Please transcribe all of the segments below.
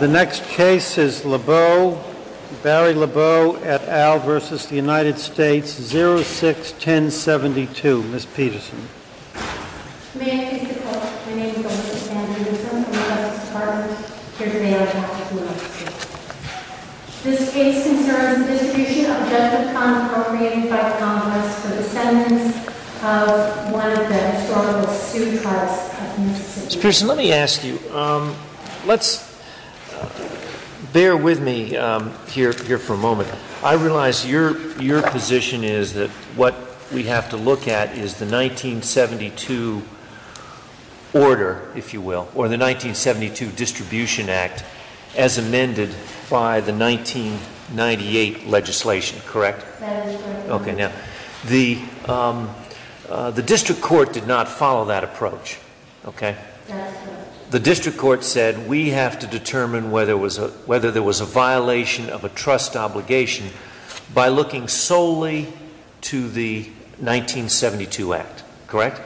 The next case is Lebeau, Barry Lebeau, et al. v. United States, 06-1072. Ms. Peterson. May I please be called? My name is Elizabeth Andrews. I'm from the Justice Department here today on behalf of the United States. This case concerns the distribution of Judgment Content appropriated by Congress for the sentence of one of the historical suit trials at Mississippi. Ms. Peterson, let me ask you, let's bear with me here for a moment. I realize your position is that what we have to look at is the 1972 order, if you will, or the 1972 Distribution Act as amended by the 1998 legislation, correct? That is correct. Okay, now, the District Court did not follow that approach, okay? That's right. The District Court said we have to determine whether there was a violation of a trust obligation by looking solely to the 1972 Act, correct?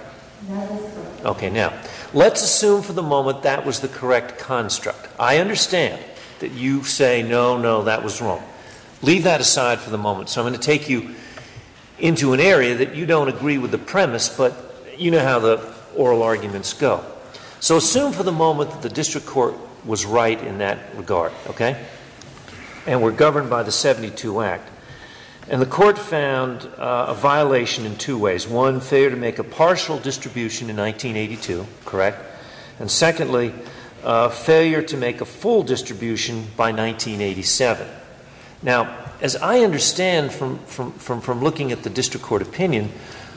That is correct. Okay, now, let's assume for the moment that was the correct construct. I understand that you say, no, no, that was wrong. Leave that aside for the moment. So I'm going to take you into an area that you don't agree with the premise, but you know how the oral arguments go. So assume for the moment that the District Court was right in that regard, okay? And were governed by the 1972 Act. And the Court found a violation in two ways. One, failure to make a partial distribution in 1982, correct? And secondly, failure to make a full distribution by 1987. Now, as I understand from looking at the District Court opinion,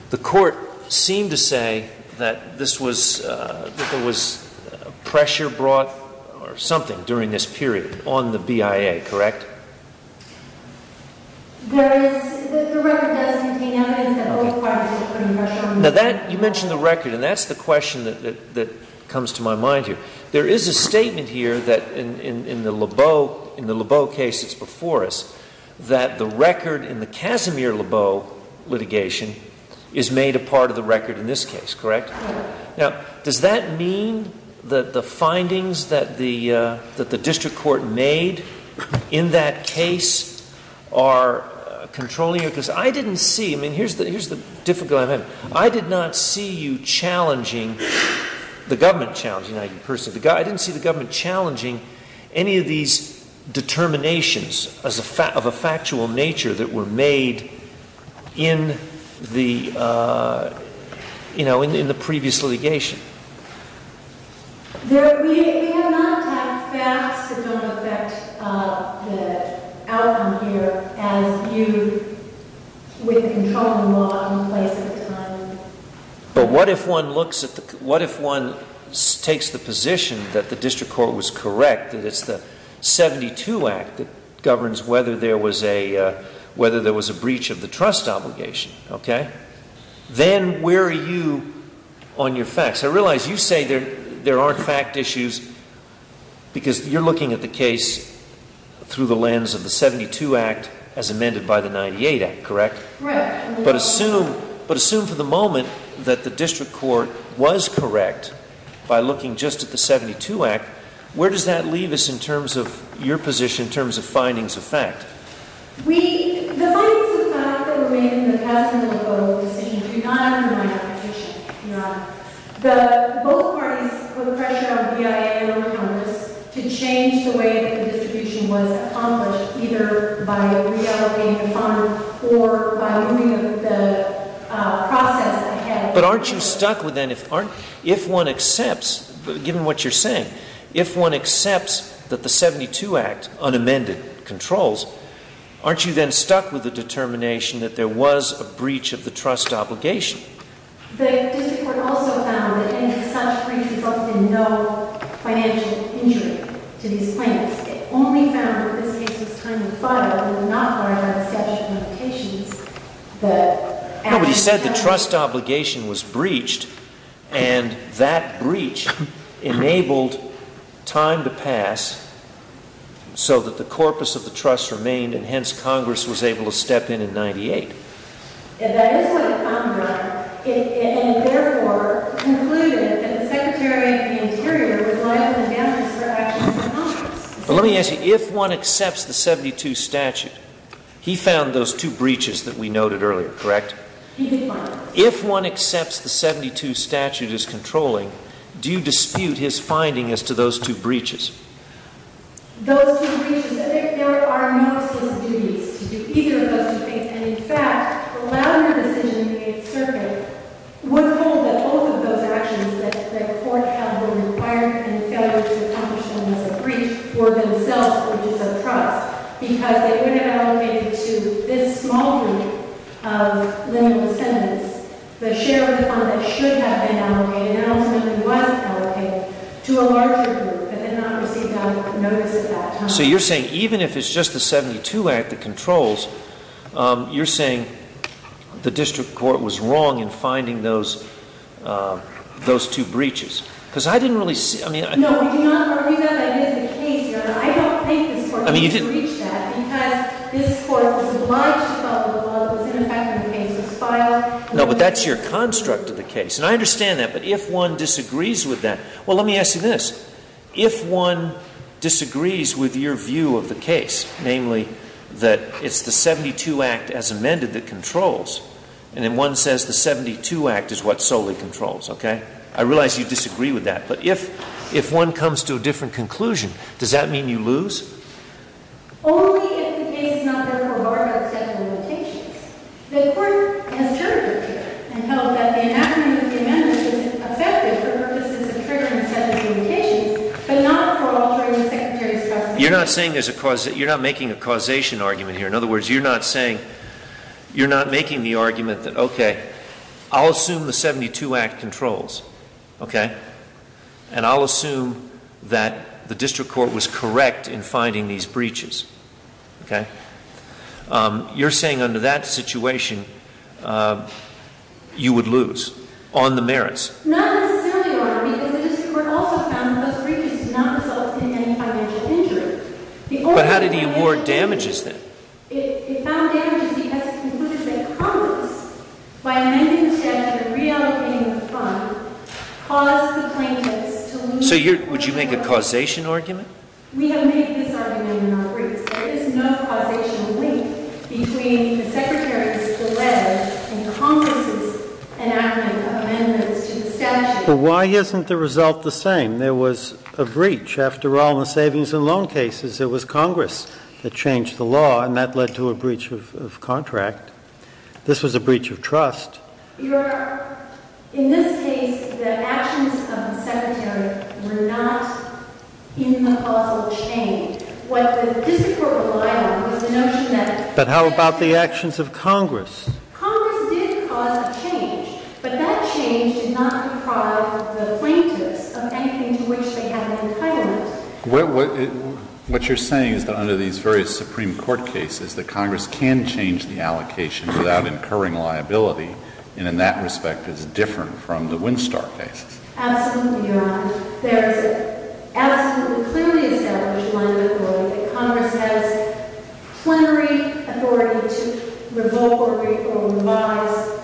the Court seemed to say that this was, that there was pressure brought or something during this period on the BIA, correct? There is, the record does contain evidence that all parties were put under pressure. Now that, you mentioned the record, and that's the question that comes to my mind here. There is a statement here that in the Lebeau case that's before us, that the record in the Casimir-Lebeau litigation is made a part of the record in this case, correct? Now, does that mean that the findings that the District Court made in that case are controlling it? Because I didn't see, I mean, here's the difficulty I'm having. I did not see you challenging, the government challenging, I didn't see the government challenging any of these determinations of a factual nature that were made in the, you know, in the previous litigation. There, we have not had facts that don't affect the outcome here as you, with the controlling law in place at the time. But what if one looks at the, what if one takes the position that the District Court was correct, that it's the 72 Act that governs whether there was a, whether there was a breach of the trust obligation, okay? Then where are you on your facts? I realize you say there aren't fact issues because you're looking at the case through the lens of the 72 Act as amended by the 98 Act, correct? Correct. But assume, but assume for the moment that the District Court was correct by looking just at the 72 Act, where does that leave us in terms of your position in terms of findings of fact? We, the findings of fact that were made in the past in the local decision do not undermine our position, do not. The, both parties put the pressure on BIA or Congress to change the way that the distribution was accomplished, either by reallocating funds or by moving the process ahead. But aren't you stuck with then, if one accepts, given what you're saying, if one accepts that the 72 Act unamended controls, aren't you then stuck with the determination that there was a breach of the trust obligation? The District Court also found that any such breach resulted in no financial injury to these claims. It only found that in this case it was time to fire, although not by our exception of patients. No, but he said the trust obligation was breached, and that breach enabled time to pass so that the corpus of the trust remained, and hence Congress was able to step in in 98. And that is what it found, right? It therefore concluded that the Secretary of the Interior was liable to damage the actions of Congress. But let me ask you, if one accepts the 72 statute, he found those two breaches that we noted earlier, correct? He did find them. If one accepts the 72 statute is controlling, do you dispute his finding as to those two breaches? Those two breaches. There are no such duties to do either of those two things. And, in fact, the louder decision being circled would hold that both of those actions that the court had required in failure to accomplish them as a breach were themselves bridges of trust. Because they would have allocated to this small group of lineal descendants the share of the funds that should have been allocated and ultimately wasn't allocated to a larger group that did not receive notice at that time. So you're saying even if it's just the 72 Act that controls, you're saying the district court was wrong in finding those two breaches? Because I didn't really see... No, we do not argue that that is the case. I mean, you didn't... No, but that's your construct of the case. And I understand that. But if one disagrees with that, well, let me ask you this. If one disagrees with your view of the case, namely that it's the 72 Act as amended that controls, and then one says the 72 Act is what solely controls, okay? I realize you disagree with that. But if one comes to a different conclusion, does that mean you lose? Only if the case is not therefore barred by a set of limitations. The court has heard it here and held that the enactment of the amendment is effective for purposes of triggering a set of limitations, but not for altering the Secretary's... You're not saying there's a... You're not making a causation argument here. In other words, you're not saying... You're not making the argument that, okay, I'll assume the 72 Act controls, okay? And I'll assume that the district court was correct in finding these breaches, okay? You're saying under that situation, you would lose on the merits. Not necessarily, Your Honor, because the district court also found that those breaches did not result in any financial injury. But how did he award damages then? It found damages because Congress, by amending the statute and reallocating the fund, caused the plaintiffs to lose... So would you make a causation argument? We have made this argument in our briefs. There is no causation link between the Secretary's delay and Congress's enactment of amendments to the statute. But why isn't the result the same? There was a breach. After all, in the savings and loan cases, it was Congress that changed the law, and that led to a breach of contract. This was a breach of trust. Your Honor, in this case, the actions of the Secretary were not in the causal chain. What the district court relied on was the notion that... But how about the actions of Congress? Congress did cause a change, but that change did not deprive the plaintiffs of anything to which they had an entitlement. What you're saying is that under these various Supreme Court cases, that Congress can change the allocation without incurring liability, and in that respect is different from the Winstar cases. Absolutely, Your Honor. There is an absolutely clearly established line of authority that Congress has plenary authority to revoke or revise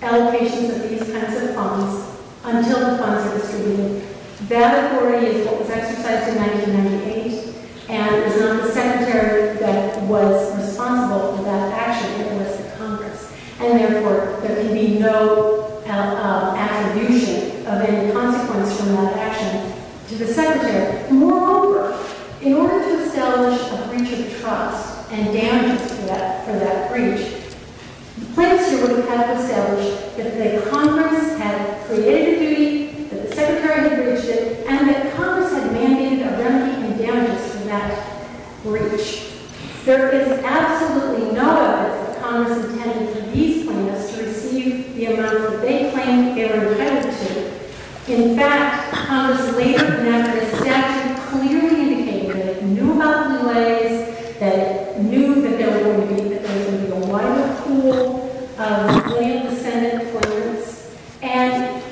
allocations of these kinds of funds until the funds are distributed. That authority is what was exercised in 1998, and it was not the Secretary that was responsible for that action, it was the Congress. And therefore, there can be no attribution of any consequence from that action to the Secretary. Moreover, in order to establish a breach of trust and damages for that breach, the plaintiffs here would have to establish that Congress had created the duty, that the Secretary had breached it, and that Congress had mandated a remedy in damages for that breach. There is absolutely no evidence that Congress intended for these plaintiffs to receive the amount that they claimed they were indebted to. In fact, Congress later, and after this statute, clearly indicated that it knew about the delays, that it knew that there was going to be a wider pool of land-resented plaintiffs, and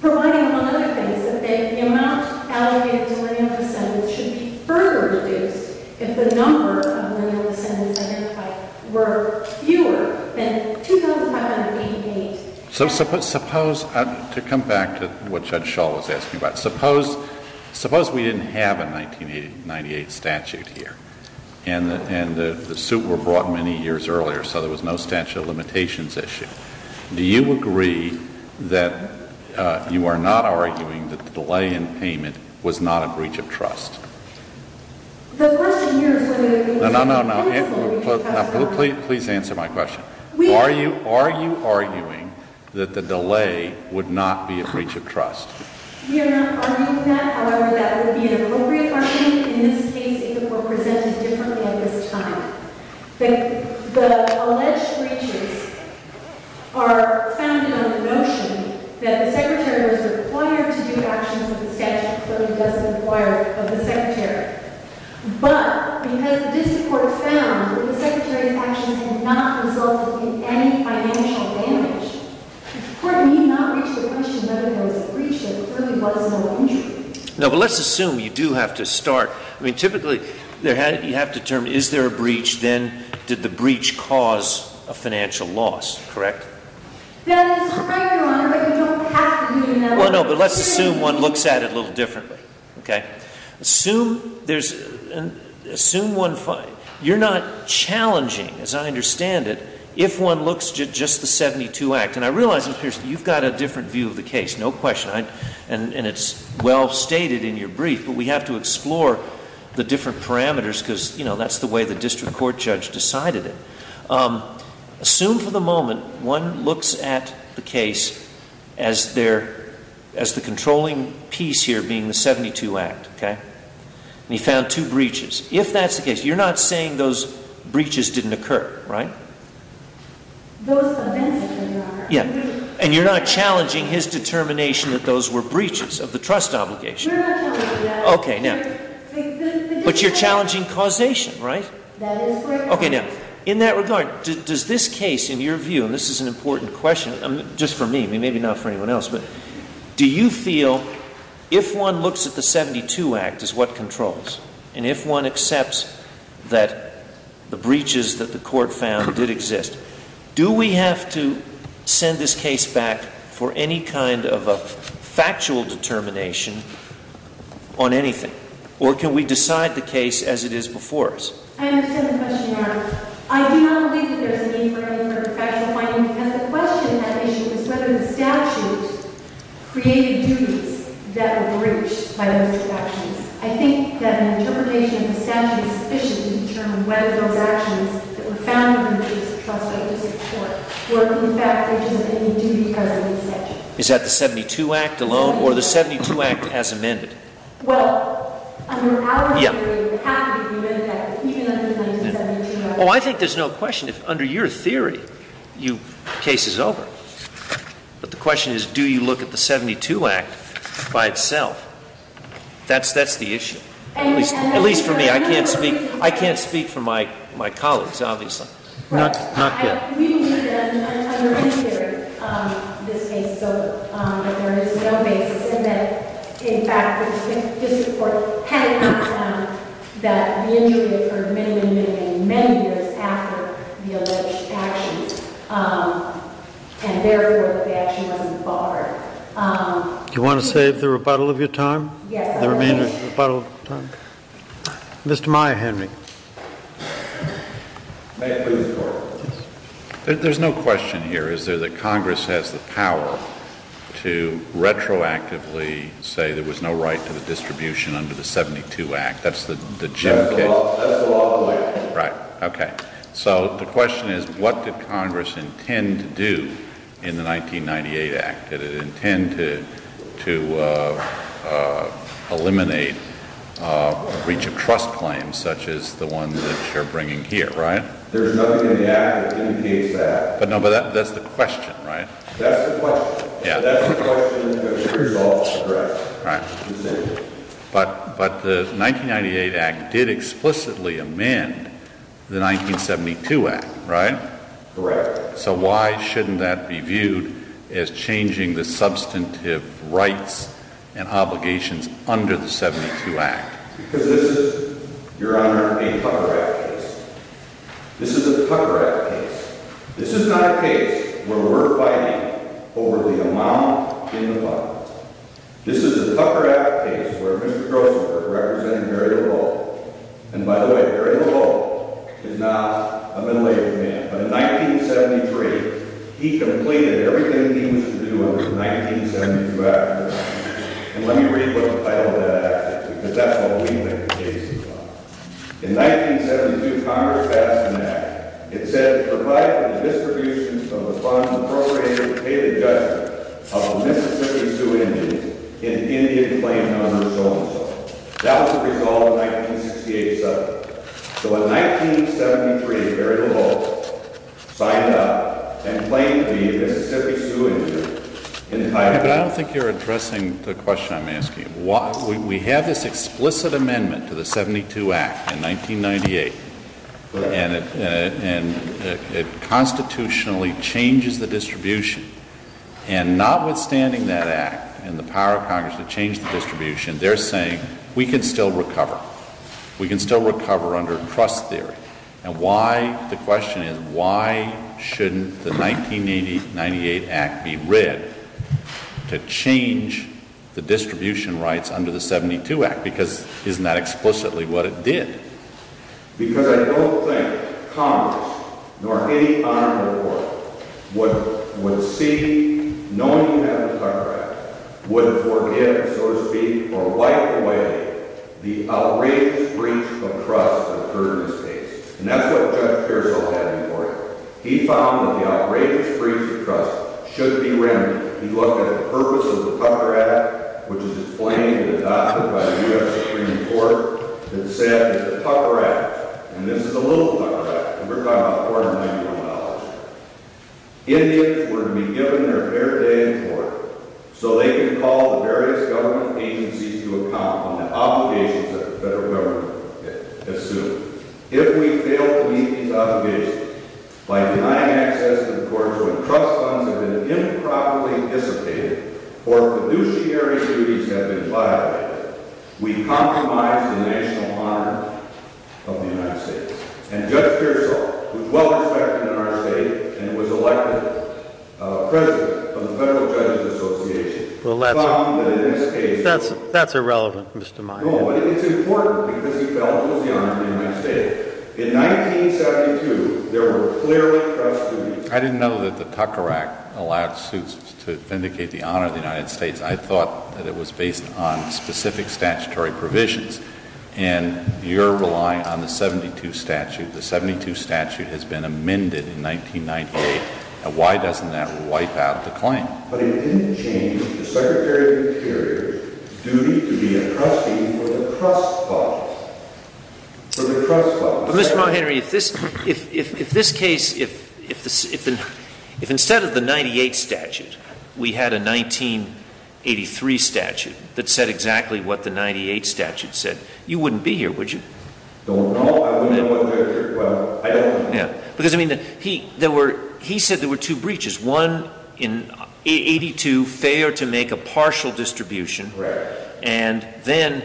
providing one other thing is that the amount allocated to land-resented should be further reduced if the number of land-resented identified were fewer than 2,988. So suppose, to come back to what Judge Schall was asking about, suppose we didn't have a 1998 statute here, and the suit were brought many years earlier, so there was no statute of limitations issue. Do you agree that you are not arguing that the delay in payment was not a breach of trust? The question here is whether the delay was not a breach of trust. No, no, no. Please answer my question. Are you arguing that the delay would not be a breach of trust? We are not arguing that. However, that would be an appropriate question, and in this case it would be presented differently at this time. The alleged breaches are founded on the notion that the Secretary was required to do actions of the statute, but because the district court found that the Secretary's actions had not resulted in any financial damage, the court need not reach the question whether there was a breach that really was no injury. No, but let's assume you do have to start. I mean, typically, you have to determine, is there a breach? Then did the breach cause a financial loss, correct? That is correct, Your Honor, but you don't have to do that. Well, no, but let's assume one looks at it a little differently, okay? Assume one finds, you're not challenging, as I understand it, if one looks at just the 72 Act, and I realize, Mr. Pearson, you've got a different view of the case, no question, and it's well stated in your brief, but we have to explore the different parameters because, you know, that's the way the district court judge decided it. Assume for the moment one looks at the case as the controlling piece here being the 72 Act, okay, and he found two breaches. If that's the case, you're not saying those breaches didn't occur, right? Those events didn't occur. Yeah, and you're not challenging his determination that those were breaches of the trust obligation. You're not challenging that. Okay, now, but you're challenging causation, right? That is correct. Okay, now, in that regard, does this case, in your view, and this is an important question, just for me, maybe not for anyone else, but do you feel if one looks at the 72 Act as what controls, and if one accepts that the breaches that the court found did exist, do we have to send this case back for any kind of a factual determination on anything, or can we decide the case as it is before us? I understand the question, Your Honor. I do not believe that there's a need for any sort of factual finding, because the question in that issue is whether the statute created duties that were breached by those actions. I think that an interpretation of the statute is sufficient to determine whether those actions that were found to be breaches of trust by the district court were, in fact, breaches of any duty because of the statute. Is that the 72 Act alone, or the 72 Act as amended? Well, under our theory, it would have to be amended, even under the 1972 Act. Oh, I think there's no question. Under your theory, the case is over. But the question is, do you look at the 72 Act by itself? That's the issue. At least for me. I can't speak for my colleagues, obviously. Not yet. We believe that under any theory, this case is over. But there is no basis in that, in fact, the district court had not found that the injury occurred many, many, many, many years after the alleged actions. And therefore, the action wasn't barred. Do you want to save the rebuttal of your time? Yes. The remainder of your rebuttal time. Mr. Meyer, hand me. May I please record? There's no question here. Is there that Congress has the power to retroactively say there was no right to the distribution under the 72 Act? That's the Jim case? That's the law of the land. Right. Okay. So the question is, what did Congress intend to do in the 1998 Act? Did it intend to eliminate breach of trust claims, such as the one that you're bringing here, right? There's nothing in the Act that indicates that. But no, but that's the question, right? That's the question. Yeah. That's the question that the resolve addressed. Right. But the 1998 Act did explicitly amend the 1972 Act, right? Correct. So why shouldn't that be viewed as changing the substantive rights and obligations under the 72 Act? Because this is, Your Honor, a Tucker Act case. This is a Tucker Act case. This is not a case where we're fighting over the amount in the fund. This is a Tucker Act case where Mr. Grossenberg represented very little. And by the way, very little is not a middle-aged man. But in 1973, he completed everything he was to do under the 1972 Act. And let me read what the title of that act is, because that's what we make the cases on. In 1972, Congress passed an act. It said, provide for the distribution of the funds appropriated to pay the judgment of the Mississippi Sioux Indians in Indian claims under the So-and-So. That was the resolve of the 1968 subject. So in 1973, very little signed up and claimed to be a Mississippi Sioux Indian in the title. But I don't think you're addressing the question I'm asking. We have this explicit amendment to the 72 Act in 1998, and it constitutionally changes the distribution. And notwithstanding that act and the power of Congress to change the distribution, they're saying we can still recover. We can still recover under trust theory. And why, the question is, why shouldn't the 1998 Act be read to change the distribution rights under the 72 Act? Because isn't that explicitly what it did? Because I don't think Congress, nor any honorable court, would see, knowing you have the Tucker Act, would forgive, so to speak, or wipe away the outrageous breach of trust that occurred in this case. And that's what Judge Pearsall had before him. He found that the outrageous breach of trust should be remedied. He looked at the purpose of the Tucker Act, which is explained and adopted by the U.S. Supreme Court, and said it's a Tucker Act. And this is a little Tucker Act. We're talking about $491. Indians were to be given their fair day in court so they could call the various government agencies to account on the obligations that the federal government assumed. If we fail to meet these obligations by denying access to the courts where trust funds have been improperly dissipated or fiduciary duties have been violated, we compromise the national honor of the United States. And Judge Pearsall, who is well respected in our state and was elected president of the Federal Judges Association, found that in this case— That's irrelevant, Mr. Meyer. No, but it's important because he felt it was the honor of the United States. In 1972, there were clearly trust duties. I didn't know that the Tucker Act allowed suits to vindicate the honor of the United States. I thought that it was based on specific statutory provisions. And you're relying on the 72 statute. The 72 statute has been amended in 1998. Now, why doesn't that wipe out the claim? But it didn't change the Secretary of the Interior's duty to be a trustee for the trust funds. For the trust funds. But, Mr. Montgomery, if this case—if instead of the 98 statute, we had a 1983 statute that said exactly what the 98 statute said, you wouldn't be here, would you? Don't know. I wouldn't know what they're—well, I don't know. Because, I mean, there were—he said there were two breaches. One, in 82, fair to make a partial distribution. Correct. And then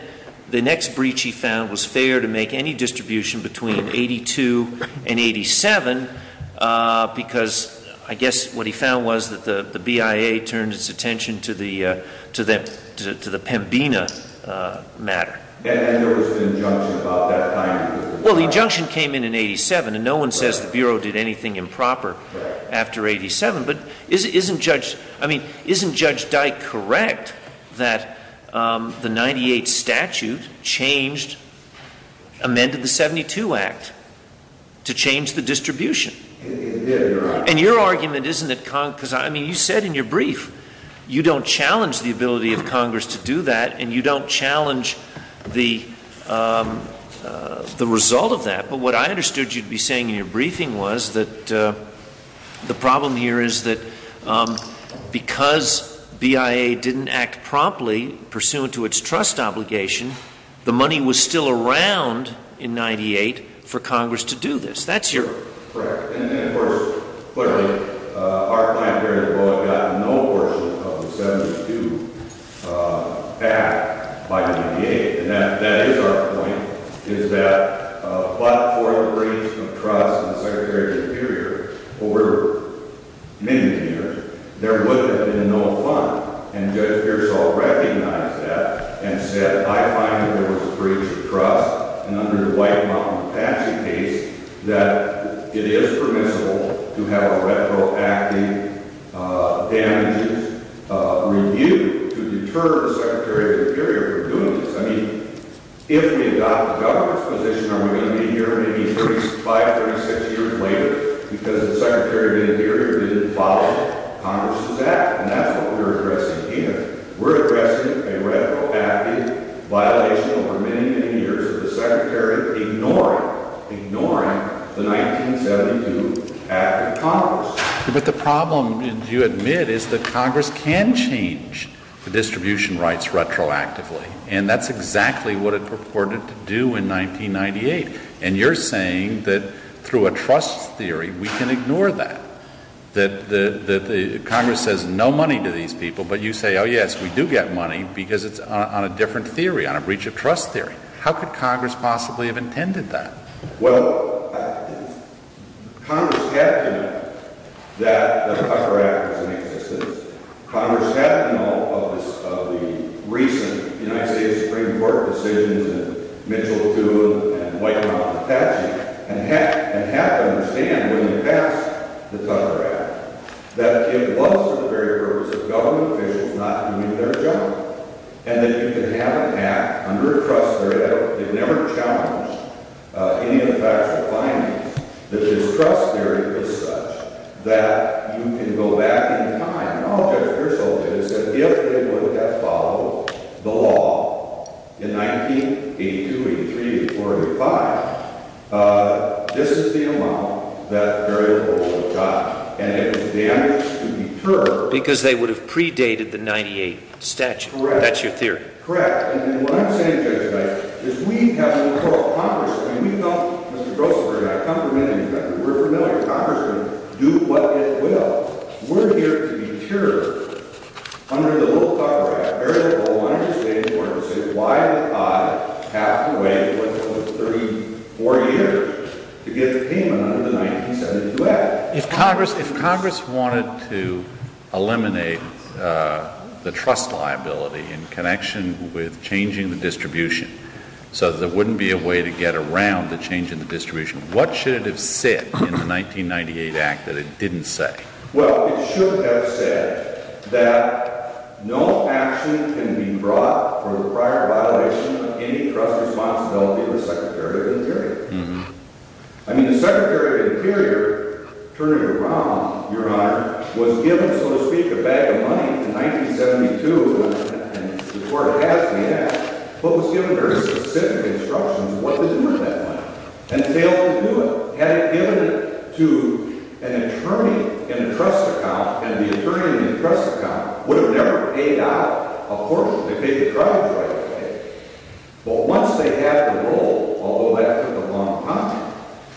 the next breach he found was fair to make any distribution between 82 and 87 because, I guess, what he found was that the BIA turned its attention to the Pembina matter. And there was an injunction about that time. Well, the injunction came in in 87, and no one says the Bureau did anything improper after 87. But isn't Judge—I mean, isn't Judge Dyke correct that the 98 statute changed—amended the 72 Act to change the distribution? It did, Your Honor. And your argument isn't that—because, I mean, you said in your brief you don't challenge the ability of Congress to do that, and you don't challenge the result of that. But what I understood you to be saying in your briefing was that the problem here is that because BIA didn't act promptly pursuant to its trust obligation, the money was still around in 98 for Congress to do this. Correct. And, of course, clearly, our client period had gotten no portion of the 72 Act by 98. And that is our point, is that but for the breach of trust in the Secretary of the Interior over many, many years, there would have been no fund. And Judge Pearsall recognized that and said, I find that there was a breach of trust, and under the White Mountain Apache case, that it is permissible to have a retroactive damages review to deter the Secretary of the Interior from doing this. I mean, if we adopt the government's position, are we going to hear maybe 35, 36 years later because the Secretary of the Interior didn't follow Congress's Act? And that's what we're addressing here. We're addressing a retroactive violation over many, many years of the Secretary ignoring, ignoring the 1972 Act of Congress. But the problem, do you admit, is that Congress can change the distribution rights retroactively, and that's exactly what it purported to do in 1998. And you're saying that through a trust theory, we can ignore that, that the Congress says no money to these people, but you say, oh, yes, we do get money because it's on a different theory, on a breach of trust theory. How could Congress possibly have intended that? Well, Congress had to know that the Tucker Act was in existence. Congress had to know of the recent United States Supreme Court decisions, and Mitchell too, and White Mountain Apache, and had to understand when they passed the Tucker Act that it was for the very purpose of government officials not doing their job. And that you could have an Act under a trust theory that never challenged any of the factual findings, that this trust theory was such that you can go back in time, and all that the result is, that if they would have followed the law in 1982, 83, 84, 85, this is the amount that variable would have gotten. Because they would have predated the 98 statute. Correct. That's your theory. Correct. And what I'm saying to you tonight, is we have to call Congress. I mean, we don't, Mr. Grossberg, I've come from anything like that. We're familiar. Congress can do what it will. We're here to deter under the little Tucker Act, very little, and I understand the importance of it. Why would I have to wait 34 years to get the payment under the 1972 Act? If Congress wanted to eliminate the trust liability in connection with changing the distribution so that there wouldn't be a way to get around the change in the distribution, what should it have said in the 1998 Act that it didn't say? Well, it should have said that no action can be brought for the prior violation of any trust responsibility of the Secretary of the Interior. I mean, the Secretary of the Interior, Attorney Rom, Your Honor, was given, so to speak, a bag of money in 1972 before it passed the Act, but was given very specific instructions what to do with that money. And failed to do it. Had it given to an attorney in a trust account, and the attorney in the trust account would have never paid out a portion. They paid the tribes right away. But once they had the role, although that took a long time,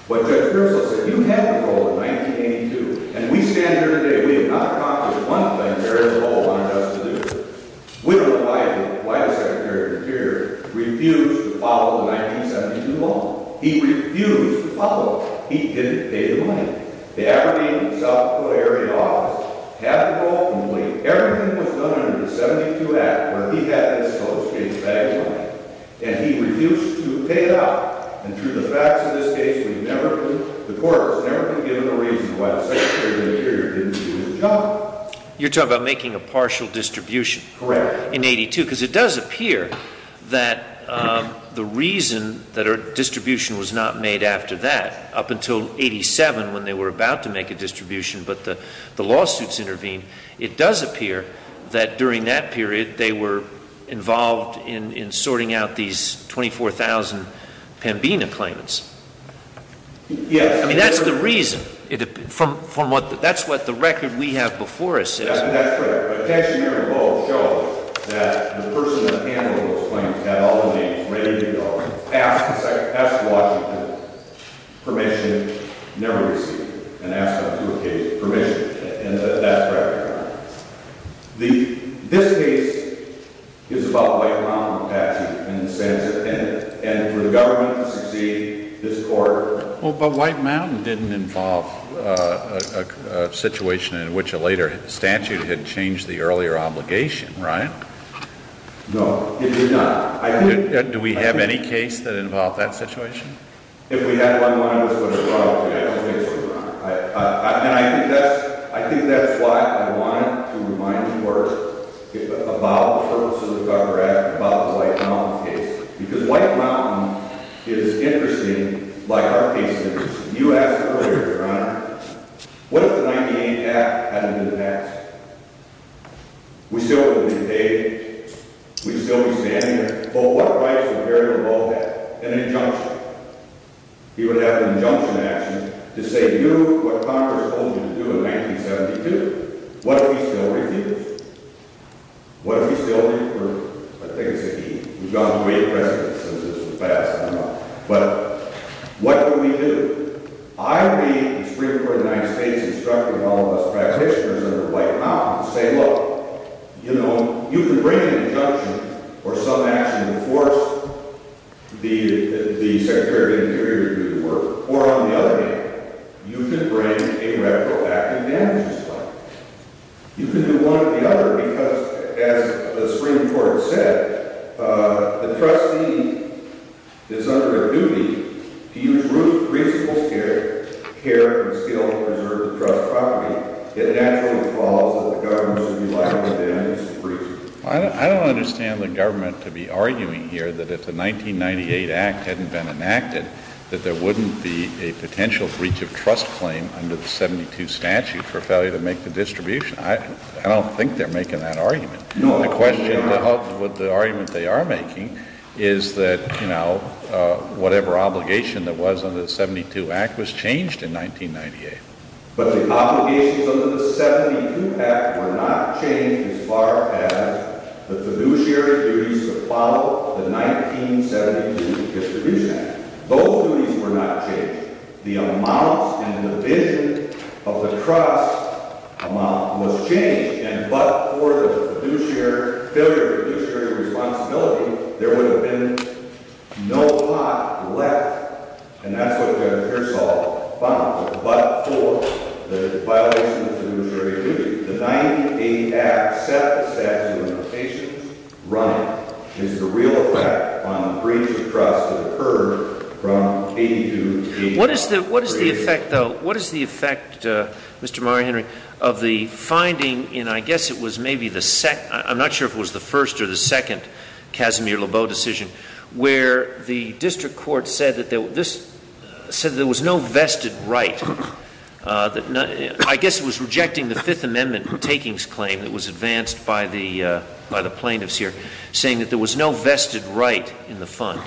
but Judge Purcell said, you had the role in 1982, and we stand here today, we have not accomplished one thing. There is a role on justice. We don't know why the Secretary of the Interior refused to follow the 1972 law. He refused to follow it. He didn't pay the money. The Aberdeen, South Dakota area office had the role, but everything was done under the 1972 Act where he had this supposed to be a bag of money. And he refused to pay it out. And through the facts of this case, we've never been, the court has never been given a reason why the Secretary of the Interior didn't do his job. You're talking about making a partial distribution. Correct. Because it does appear that the reason that a distribution was not made after that, up until 87 when they were about to make a distribution, but the lawsuits intervened, it does appear that during that period they were involved in sorting out these 24,000 Pembina claimants. Yes. I mean, that's the reason. That's what the record we have before us is. Yes, that's correct. But attention here in blue shows that the person that handled those claims had all the names ready to go, asked Washington permission, never received it, and asked him to obtain permission. And that's correct. This case is about the White Mountain statute. And for the government to succeed this court. Well, but White Mountain didn't involve a situation in which a later statute had changed the earlier obligation, right? No, it did not. Do we have any case that involved that situation? If we had, my mind was put aside. And I think that's why I wanted to remind the court about the purpose of the cover act, about the White Mountain case. Because White Mountain is interesting, like our case is interesting. You asked earlier, Your Honor, what if the 98 Act hadn't been passed? We still would have been paid. We'd still be standing there. But what rights would Gary Lebow have? An injunction. He would have an injunction action to say, do what Congress told you to do in 1972. What if he still refused? What if he still refused? I think it's a he. We've gone through eight presidents since this was passed. I don't know. But what would we do? I would be in the Supreme Court of the United States instructing all of us practitioners under White Mountain to say, look, you know, you can bring an injunction or some action to enforce the statute. Or on the other hand, you can bring a retroactive damages fine. You can do one or the other because, as the Supreme Court said, the trustee is under their duty to use reasonable care and skill to preserve the trust property. It naturally follows that the government should be liable to damages. I don't understand the government to be arguing here that if the 1998 Act hadn't been enacted, that there wouldn't be a potential breach of trust claim under the 72 statute for failure to make the distribution. I don't think they're making that argument. No. The question of the argument they are making is that, you know, whatever obligation that was under the 72 Act was changed in 1998. But the obligations under the 72 Act were not changed as far as the fiduciary duties to follow the 1972 distribution act. Those duties were not changed. The amounts and the division of the trust amount was changed. And but for the fiduciary failure, fiduciary responsibility, there would have been no pot left. And that's what Judge Hirsol found. But for the violation of fiduciary duty, the 1998 Act, except the statute of limitations running, is the real effect on the breach of trust that occurred from 82 to 88. What is the effect, though? What is the effect, Mr. Mario Henry, of the finding in, I guess it was maybe the second, I'm not sure if it was the first or the second, Casimir-Lebeau decision, where the district court said that there was no vested right. I guess it was rejecting the Fifth Amendment takings claim that was advanced by the plaintiffs here, saying that there was no vested right in the fund.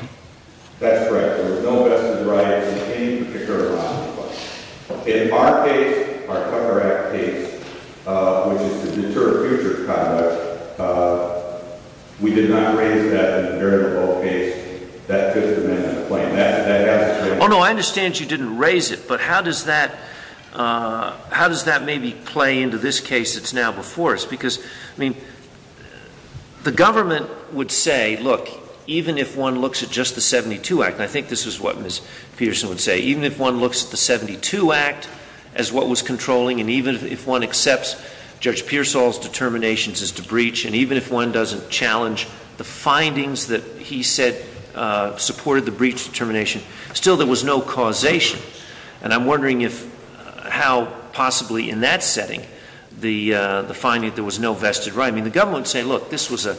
That's correct. There was no vested right in any particular fund. In our case, our cover act case, which is to deter future conduct, we did not raise that in the very low case. That Fifth Amendment claim. That has to change. Oh, no, I understand you didn't raise it. But how does that maybe play into this case that's now before us? Because, I mean, the government would say, look, even if one looks at just the 72 Act, and I think this is what Ms. Peterson would say, even if one looks at the 72 Act as what was controlling, and even if one accepts Judge Pearsall's determinations as to breach, and even if one doesn't challenge the findings that he said supported the breach determination, still there was no causation. And I'm wondering if, how possibly in that setting, the finding that there was no vested right. I mean, the government would say, look, this was a,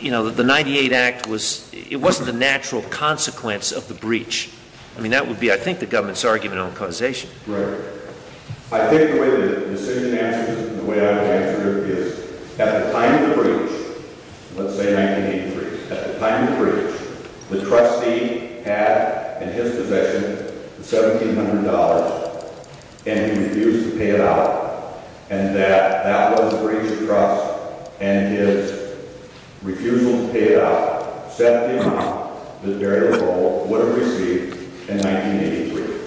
you know, the 98 Act was, it wasn't a natural consequence of the breach. I mean, that would be, I think, the government's argument on causation. Right. I think the way the decision answers, the way I would answer it is, at the time of the breach, let's say 1983, at the time of the breach, the trustee had in his possession the $1,700, and he refused to pay it out. And that, that was the breach of trust, and his refusal to pay it out set the amount that Derrida Rowe would have received in 1983.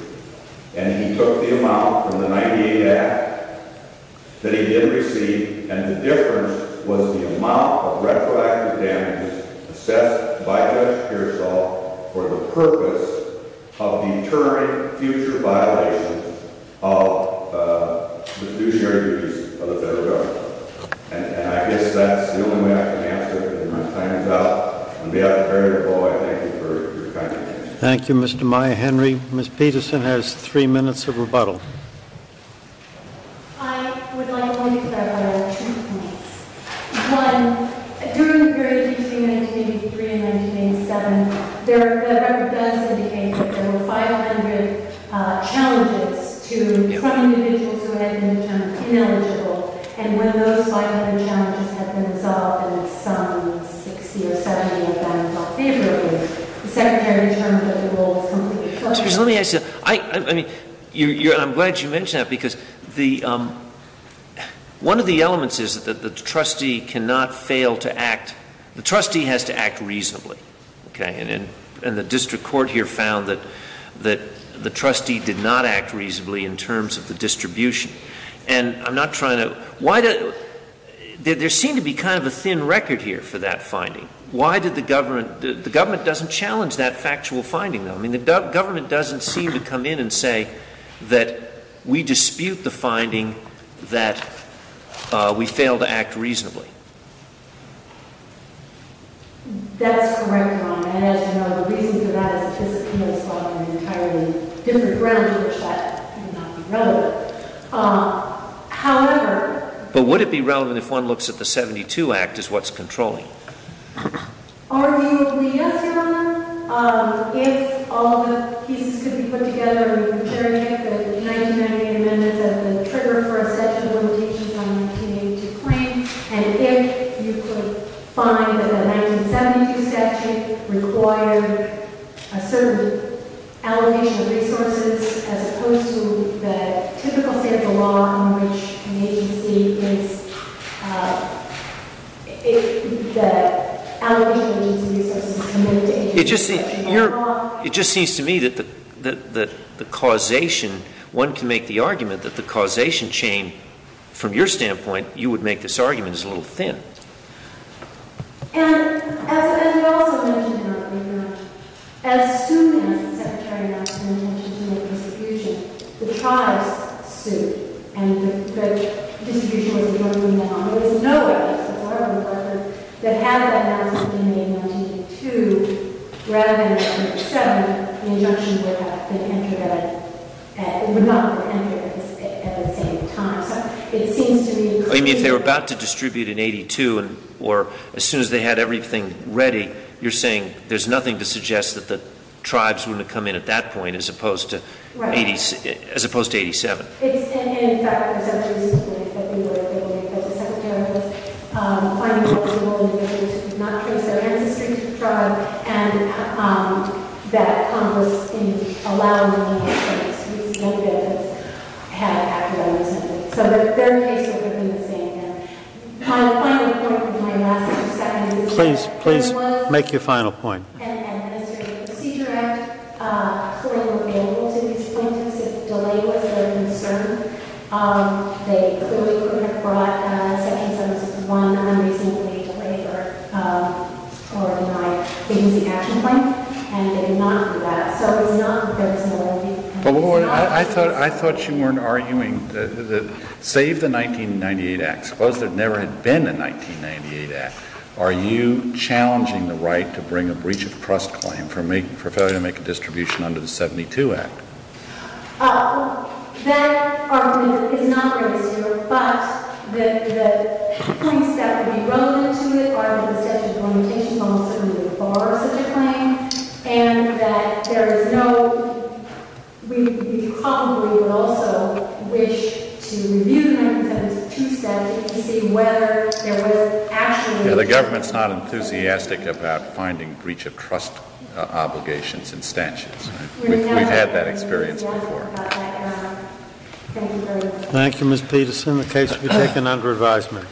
And he took the amount from the 98 Act that he did receive, and the difference was the amount of retroactive damage assessed by Judge Pearsall for the purpose of deterring future violations of the fiduciary duties of the federal government. And I guess that's the only way I can answer it, and my time is up. On behalf of Derrida Rowe, I thank you for your kind attention. Thank you, Mr. Meyer. Henry, Ms. Peterson has three minutes of rebuttal. I would like to make a couple of points. One, during the period between 1983 and 1987, the record does indicate that there were 500 challenges to 20 individuals who had been termed ineligible. And when those 500 challenges had been resolved, and at some 60 or 70 were found not favorable, the Secretary determined that the role was completely closed off. Excuse me, let me ask you. I, I mean, you, you're, I'm glad you mentioned that because the, one of the elements is that the trustee cannot fail to act, the trustee has to act reasonably, okay? And, and the district court here found that, that the trustee did not act reasonably in terms of the distribution. And I'm not trying to, why did, there seemed to be kind of a thin record here for that finding. Why did the government, the government doesn't challenge that factual finding, though. I mean, the government doesn't seem to come in and say that we dispute the finding that we fail to act reasonably. That's correct, Your Honor. And as you know, the reason for that is that this is coming from an entirely different ground to which that may not be relevant. However. But would it be relevant if one looks at the 72 Act as what's controlling? Are you agree, yes, Your Honor? If all the pieces could be put together in the jurisdiction that the 1998 amendments have been triggered for a statute of limitations on 1882 claim. And if you could find that the 1972 statute required a certain allegation of resources as opposed to the typical standard law in which an agency is, if the allegation of resources is limited. It just seems to me that the causation, one can make the argument that the causation chain, from your standpoint, you would make this argument, is a little thin. And as you also mentioned, Your Honor, as soon as the Secretary of National Intention to make a prosecution, the tribes sued and the distribution was broken down. There was no evidence, as far as I'm concerned, that had that announcement been made in 1982, rather than in 1987, an injunction would have been entered at, would not have been entered at the same time. If they were about to distribute in 82 or as soon as they had everything ready, you're saying there's nothing to suggest that the tribes wouldn't have come in at that point as opposed to 87. It's in fact presumptuous to think that they would have been able to, as the Secretary of National Intention, find a reasonable indication to not trace their ancestry to the tribe and that Congress didn't allow them to make a case. There's no evidence that had that announcement made. So their case would have been the same. And my final point before I last for a second is that there was an Administrative Procedure Act claim available to these plaintiffs. If delay was their concern, they could have brought Section 761 unreasonably delayed or denied the using action claim. And they did not do that. So it's not that there is no evidence. But, Warren, I thought you weren't arguing that save the 1998 Act, suppose there never had been a 1998 Act, are you challenging the right to bring a breach of trust claim for failure to make a distribution under the 72 Act? That argument is not for this year. But the points that would be relevant to it are that the statute of limitations almost certainly would bar such a claim and that there is no We probably would also wish to review the 1972 statute to see whether there was actually The government's not enthusiastic about finding breach of trust obligations and statutes. We've had that experience before. Thank you, Ms. Peterson. The case will be taken under advisement.